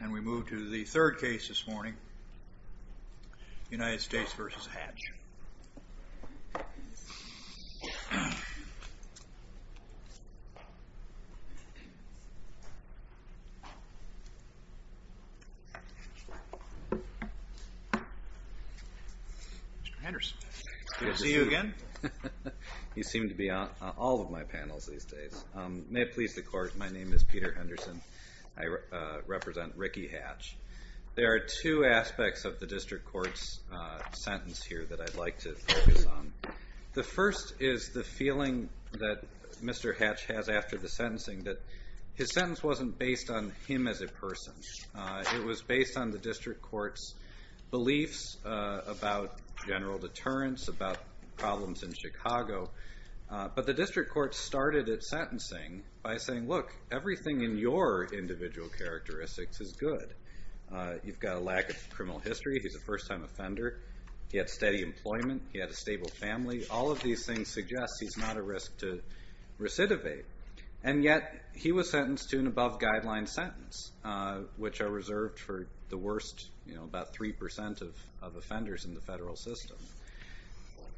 And we move to the third case this morning, United States v. Hatch. Mr. Henderson. Good to see you again. You seem to be on all of my panels these days. May it please the Court, my name is Peter Henderson. I represent Ricky Hatch. There are two aspects of the District Court's sentence here that I'd like to focus on. The first is the feeling that Mr. Hatch has after the sentencing, that his sentence wasn't based on him as a person. It was based on the District Court's beliefs about general deterrence, about problems in Chicago. But the District Court started its sentencing by saying, look, everything in your individual characteristics is good. You've got a lack of criminal history. He's a first-time offender. He had steady employment. He had a stable family. All of these things suggest he's not at risk to recidivate. And yet he was sentenced to an above-guideline sentence, which are reserved for the worst, about 3% of offenders in the federal system.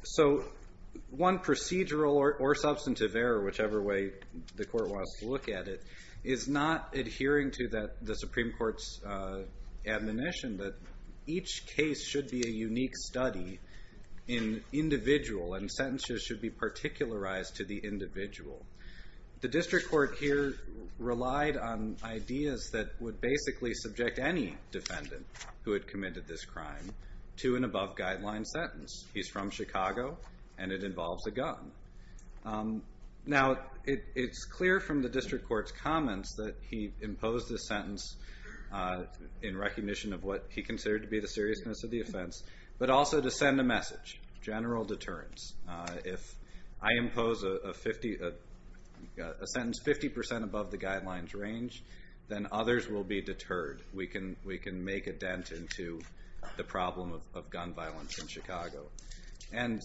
So one procedural or substantive error, whichever way the Court wants to look at it, is not adhering to the Supreme Court's admonition that each case should be a unique study in individual, and sentences should be particularized to the individual. The District Court here relied on ideas that would basically subject any defendant who had committed this crime to an above-guideline sentence. He's from Chicago, and it involves a gun. Now, it's clear from the District Court's comments that he imposed this sentence in recognition of what he considered to be the seriousness of the offense, but also to send a message, general deterrence. If I impose a sentence 50% above the guidelines range, then others will be deterred. We can make a dent into the problem of gun violence in Chicago. And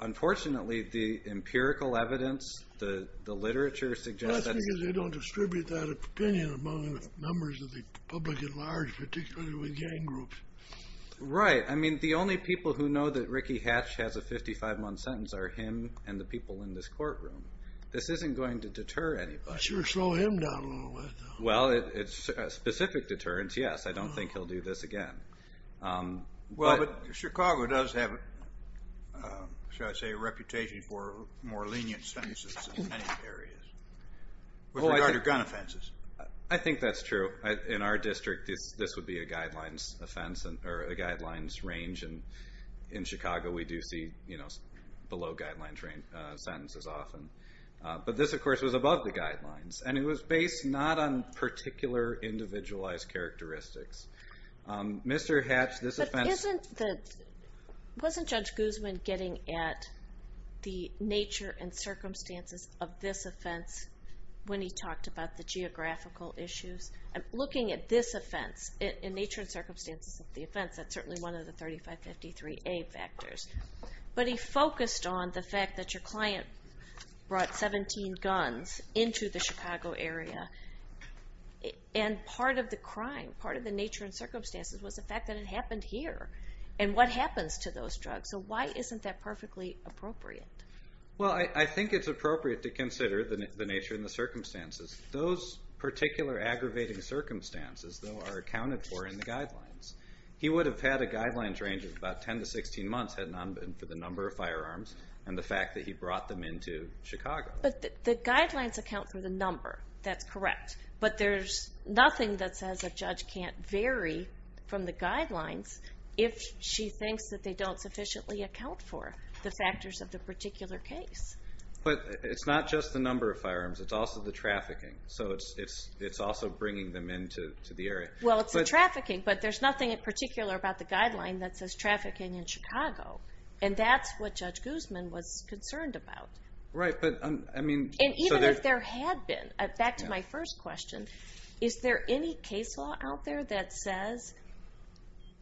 unfortunately, the empirical evidence, the literature suggests that... Well, that's because they don't distribute that opinion among members of the public at large, particularly with gang groups. Right. I mean, the only people who know that Ricky Hatch has a 55-month sentence are him and the people in this courtroom. This isn't going to deter anybody. It should slow him down a little bit, though. Well, it's specific deterrence, yes. I don't think he'll do this again. Well, but Chicago does have, shall I say, a reputation for more lenient sentences in many areas with regard to gun offenses. I think that's true. In our district, this would be a guidelines range, and in Chicago we do see below-guidelines sentences often. But this, of course, was above the guidelines, and it was based not on particular individualized characteristics. Mr. Hatch, this offense... But wasn't Judge Guzman getting at the nature and circumstances of this offense when he talked about the geographical issues? Looking at this offense, in nature and circumstances of the offense, that's certainly one of the 3553A factors. But he focused on the fact that your client brought 17 guns into the Chicago area, and part of the crime, part of the nature and circumstances, was the fact that it happened here and what happens to those drugs. So why isn't that perfectly appropriate? Well, I think it's appropriate to consider the nature and the circumstances. Those particular aggravating circumstances, though, are accounted for in the guidelines. He would have had a guidelines range of about 10 to 16 months had it not been for the number of firearms and the fact that he brought them into Chicago. But the guidelines account for the number. That's correct. But there's nothing that says a judge can't vary from the guidelines if she thinks that they don't sufficiently account for the factors of the particular case. But it's not just the number of firearms. It's also the trafficking. So it's also bringing them into the area. Well, it's the trafficking, but there's nothing in particular about the guideline that says trafficking in Chicago. And that's what Judge Guzman was concerned about. Right. And even if there had been, back to my first question, is there any case law out there that says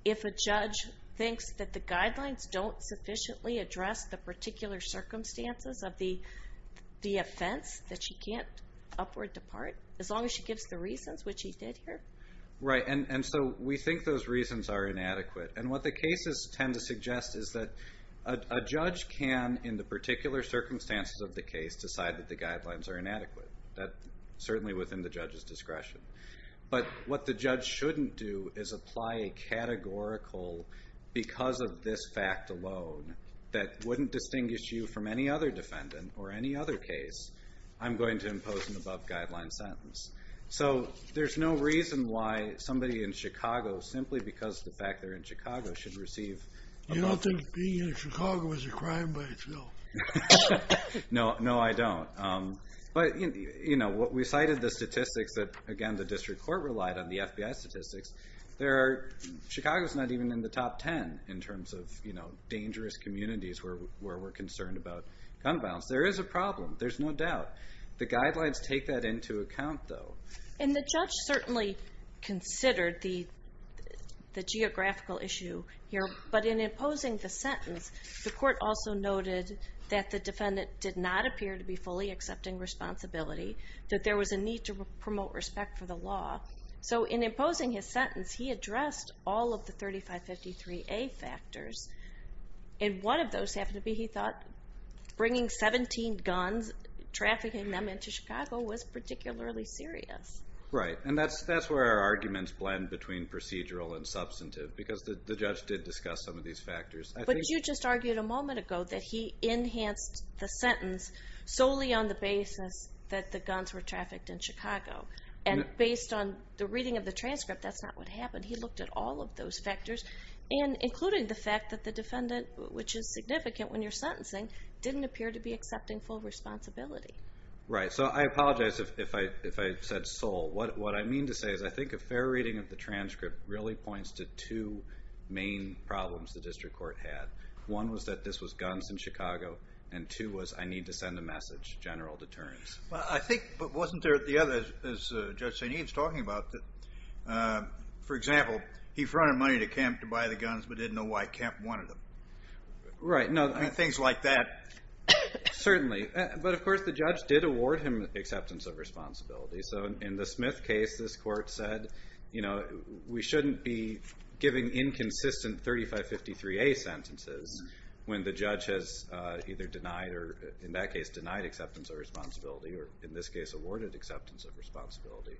if a judge thinks that the guidelines don't sufficiently address the particular circumstances of the offense that she can't upward depart, as long as she gives the reasons, which she did here? Right. And so we think those reasons are inadequate. And what the cases tend to suggest is that a judge can, in the particular circumstances of the case, decide that the guidelines are inadequate. That's certainly within the judge's discretion. But what the judge shouldn't do is apply a categorical, because of this fact alone, that wouldn't distinguish you from any other defendant or any other case, I'm going to impose an above-guideline sentence. So there's no reason why somebody in Chicago, simply because of the fact they're in Chicago, should receive an above-guideline. You don't think being in Chicago is a crime by itself? No, I don't. But we cited the statistics that, again, the district court relied on, the FBI statistics. Chicago's not even in the top 10 in terms of dangerous communities where we're concerned about gun violence. There is a problem. There's no doubt. The guidelines take that into account, though. And the judge certainly considered the geographical issue here. But in imposing the sentence, the court also noted that the defendant did not appear to be fully accepting responsibility, that there was a need to promote respect for the law. So in imposing his sentence, he addressed all of the 3553A factors. And one of those happened to be, he thought, bringing 17 guns, trafficking them into Chicago, was particularly serious. Right, and that's where our arguments blend between procedural and substantive, because the judge did discuss some of these factors. But you just argued a moment ago that he enhanced the sentence solely on the basis that the guns were trafficked in Chicago. And based on the reading of the transcript, that's not what happened. He looked at all of those factors, including the fact that the defendant, which is significant when you're sentencing, didn't appear to be accepting full responsibility. Right. So I apologize if I said sole. What I mean to say is I think a fair reading of the transcript really points to two main problems the district court had. One was that this was guns in Chicago, and two was I need to send a message, general deterrence. I think, but wasn't there the other, as Judge St. Ian's talking about, that, for example, he fronted money to Kemp to buy the guns but didn't know why Kemp wanted them? Right. Things like that. Certainly. But, of course, the judge did award him acceptance of responsibility. So in the Smith case, this court said, you know, we shouldn't be giving inconsistent 3553A sentences when the judge has either denied or, in that case, denied acceptance of responsibility or, in this case, awarded acceptance of responsibility.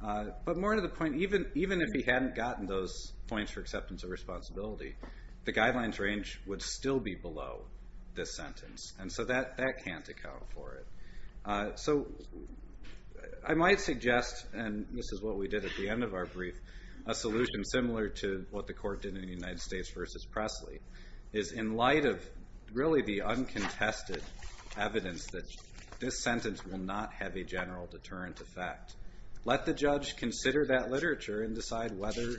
But more to the point, even if he hadn't gotten those points for acceptance of responsibility, the guidelines range would still be below this sentence, and so that can't account for it. So I might suggest, and this is what we did at the end of our brief, a solution similar to what the court did in the United States versus Presley, is in light of really the uncontested evidence that this sentence will not have a general deterrent effect, let the judge consider that literature and decide whether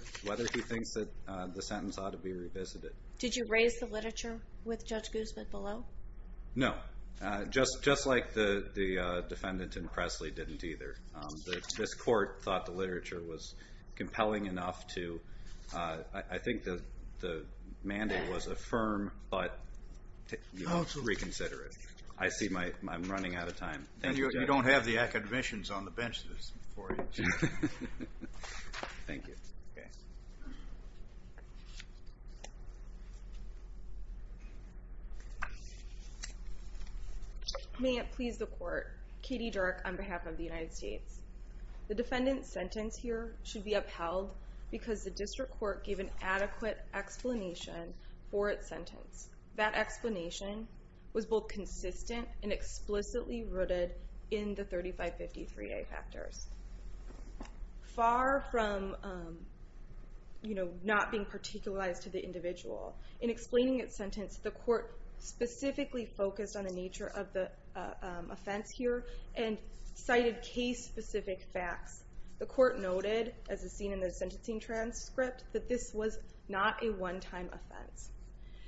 he thinks that the sentence ought to be revisited. Did you raise the literature with Judge Guzman below? No. Just like the defendant in Presley didn't either. This court thought the literature was compelling enough to, I think the mandate was affirm but reconsider it. I see I'm running out of time. You don't have the academicians on the benches for you. Thank you. May it please the court. Katie Dirk on behalf of the United States. The defendant's sentence here should be upheld That explanation was both consistent and explicitly rooted in the 3553A factors. Far from not being particularized to the individual, in explaining its sentence, the court specifically focused on the nature of the offense here and cited case-specific facts. The court noted, as is seen in the sentencing transcript, that this was not a one-time offense,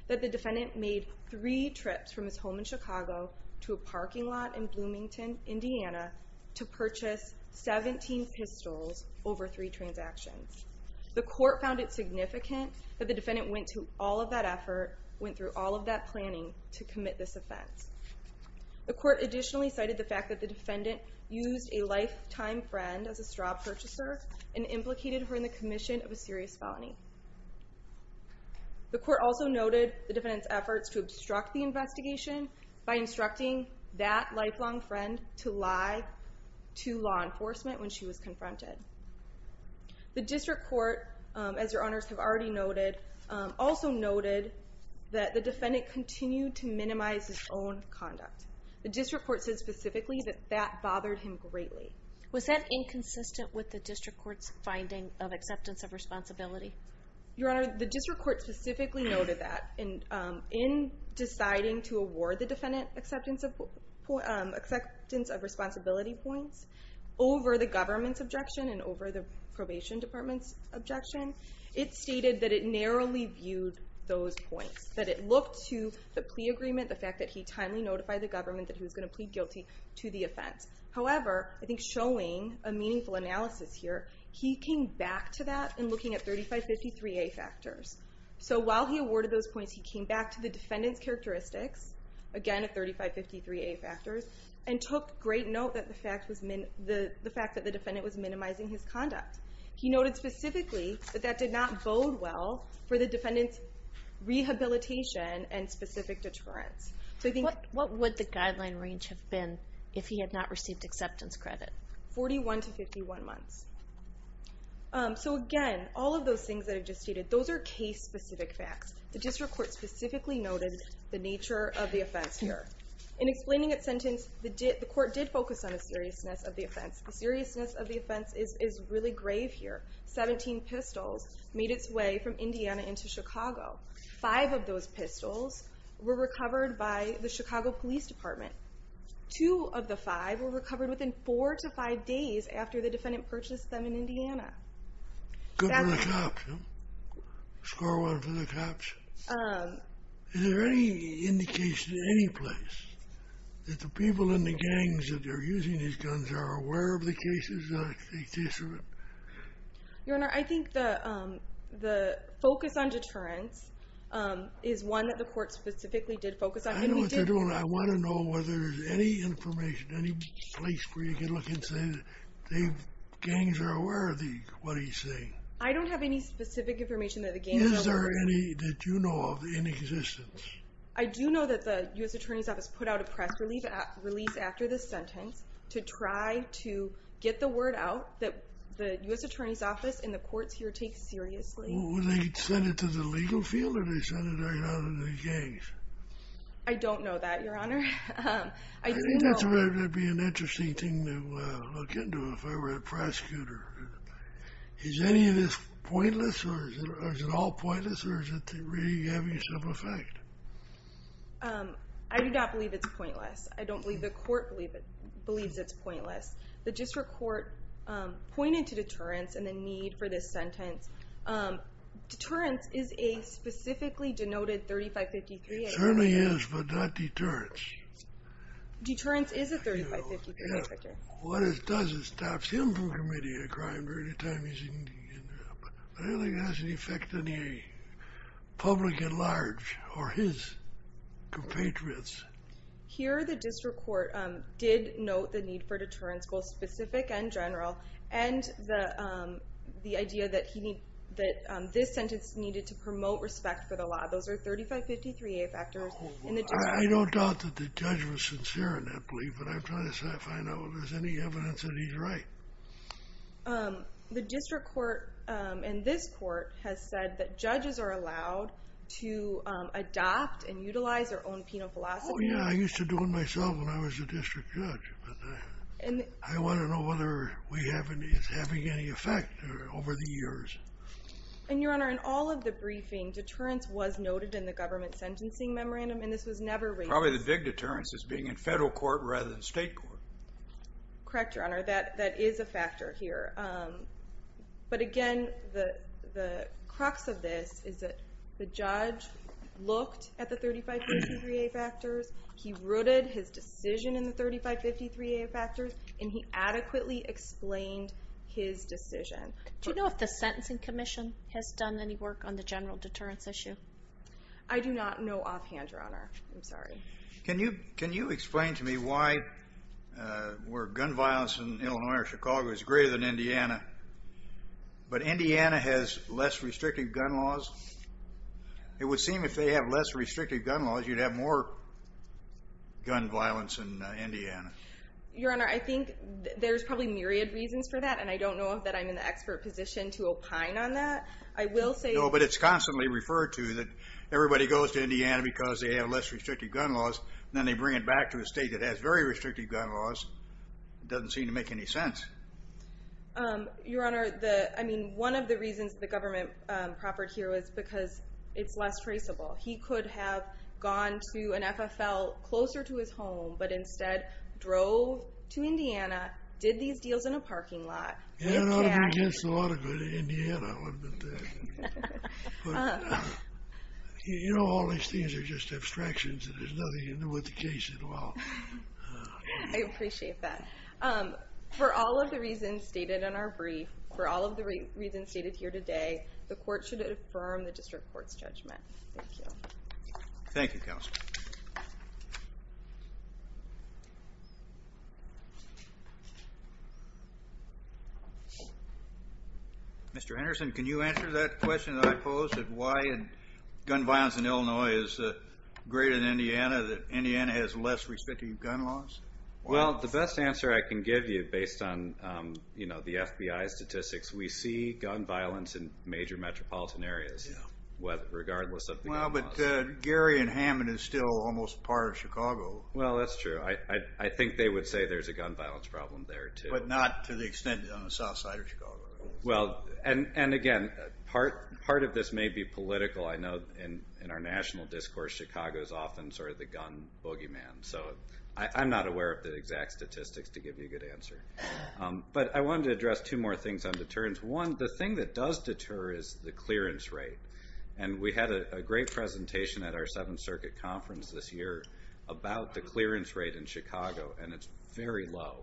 that the defendant made three trips from his home in Chicago to a parking lot in Bloomington, Indiana, to purchase 17 pistols over three transactions. The court found it significant that the defendant went through all of that effort, went through all of that planning to commit this offense. The court additionally cited the fact that the defendant used a lifetime friend as a straw purchaser and implicated her in the commission of a serious felony. The court also noted the defendant's efforts to obstruct the investigation by instructing that lifelong friend to lie to law enforcement when she was confronted. The district court, as your honors have already noted, also noted that the defendant continued to minimize his own conduct. The district court said specifically that that bothered him greatly. Was that inconsistent with the district court's finding of acceptance of responsibility? Your honor, the district court specifically noted that. In deciding to award the defendant acceptance of responsibility points over the government's objection and over the probation department's objection, it stated that it narrowly viewed those points, that it looked to the plea agreement, the fact that he timely notified the government that he was going to plead guilty to the offense. However, I think showing a meaningful analysis here, he came back to that in looking at 3553A factors. So while he awarded those points, he came back to the defendant's characteristics, again at 3553A factors, and took great note that the fact that the defendant was minimizing his conduct. He noted specifically that that did not bode well for the defendant's rehabilitation and specific deterrence. What would the guideline range have been if he had not received acceptance credit? 41 to 51 months. So again, all of those things that I just stated, those are case-specific facts. The district court specifically noted the nature of the offense here. In explaining its sentence, the court did focus on the seriousness of the offense. The seriousness of the offense is really grave here. 17 pistols made its way from Indiana into Chicago. Five of those pistols were recovered by the Chicago Police Department. Two of the five were recovered within four to five days after the defendant purchased them in Indiana. Good for the cops, huh? Score one for the cops. Is there any indication in any place that the people in the gangs that are using these guns are aware of the cases? Your Honor, I think the focus on deterrence is one that the court specifically did focus on. I know what you're doing. I want to know whether there's any information, any place where you can look and say the gangs are aware of what he's saying. I don't have any specific information that the gangs are aware of. Is there any that you know of in existence? I do know that the U.S. Attorney's Office put out a press release after the sentence to try to get the word out that the U.S. Attorney's Office and the courts here take seriously. Were they sent it to the legal field or did they send it out to the gangs? I don't know that, Your Honor. I think that would be an interesting thing to look into if I were a prosecutor. Is any of this pointless or is it all pointless or is it really having some effect? I do not believe it's pointless. I don't believe the court believes it's pointless. The district court pointed to deterrence and the need for this sentence. Deterrence is a specifically denoted 3553. It certainly is, but not deterrence. Deterrence is a 3553. What it does is stops him from committing a crime during the time he's in jail. I don't think it has any effect on the public at large or his compatriots. Here the district court did note the need for deterrence, both specific and general, and the idea that this sentence needed to promote respect for the law. Those are 3553 factors. I don't doubt that the judge was sincere in that belief, but I'm trying to find out if there's any evidence that he's right. The district court and this court have said that judges are allowed to adopt and utilize their own penal philosophy. Oh, yeah. I used to do it myself when I was a district judge, but I want to know whether it's having any effect over the years. Your Honor, in all of the briefing, deterrence was noted in the government sentencing memorandum, and this was never raised. Probably the big deterrence is being in federal court rather than state court. Correct, Your Honor. That is a factor here. But, again, the crux of this is that the judge looked at the 3553A factors, he rooted his decision in the 3553A factors, and he adequately explained his decision. Do you know if the sentencing commission has done any work on the general deterrence issue? I'm sorry. Can you explain to me why where gun violence in Illinois or Chicago is greater than Indiana, but Indiana has less restrictive gun laws? It would seem if they have less restrictive gun laws, you'd have more gun violence in Indiana. Your Honor, I think there's probably myriad reasons for that, and I don't know that I'm in the expert position to opine on that. I will say that. No, but it's constantly referred to that everybody goes to Indiana because they have less restrictive gun laws, and then they bring it back to a state that has very restrictive gun laws. It doesn't seem to make any sense. Your Honor, I mean, one of the reasons the government proffered here was because it's less traceable. He could have gone to an FFL closer to his home, but instead drove to Indiana, did these deals in a parking lot. Yeah, it would have been just as a lot of good in Indiana. You know, all these things are just abstractions, and there's nothing to do with the case at all. I appreciate that. For all of the reasons stated in our brief, for all of the reasons stated here today, the court should affirm the district court's judgment. Thank you. Thank you, counsel. Mr. Anderson, can you answer that question that I posed, that why gun violence in Illinois is greater than Indiana, that Indiana has less restrictive gun laws? Well, the best answer I can give you, based on the FBI statistics, we see gun violence in major metropolitan areas, regardless of the gun laws. Well, but Gary and Hammond have stated, Well, that's true. I think they would say there's a gun violence problem there too. But not to the extent on the south side of Chicago. Well, and again, part of this may be political. I know in our national discourse, Chicago is often sort of the gun boogeyman. So I'm not aware of the exact statistics to give you a good answer. But I wanted to address two more things on deterrence. One, the thing that does deter is the clearance rate. And we had a great presentation at our Seventh Circuit Conference this year about the clearance rate in Chicago, and it's very low.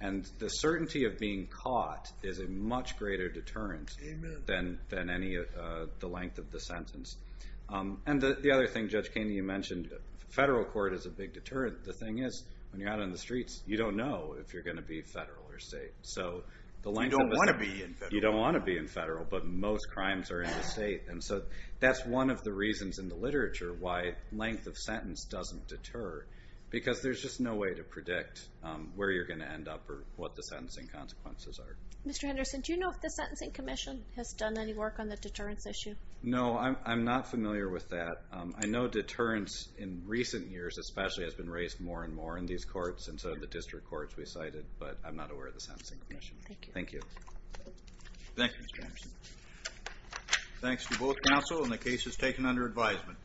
And the certainty of being caught is a much greater deterrent than any of the length of the sentence. And the other thing, Judge Keeney, you mentioned, federal court is a big deterrent. The thing is, when you're out on the streets, you don't know if you're going to be federal or state. You don't want to be in federal. You don't want to be in federal. But most crimes are in the state. And so that's one of the reasons in the literature why length of sentence doesn't deter, because there's just no way to predict where you're going to end up or what the sentencing consequences are. Mr. Henderson, do you know if the Sentencing Commission has done any work on the deterrence issue? No, I'm not familiar with that. I know deterrence in recent years especially has been raised more and more in these courts and so have the district courts we cited, but I'm not aware of the Sentencing Commission. Thank you. Thank you, Mr. Henderson. Thanks to both counsel, and the case is taken under advisement.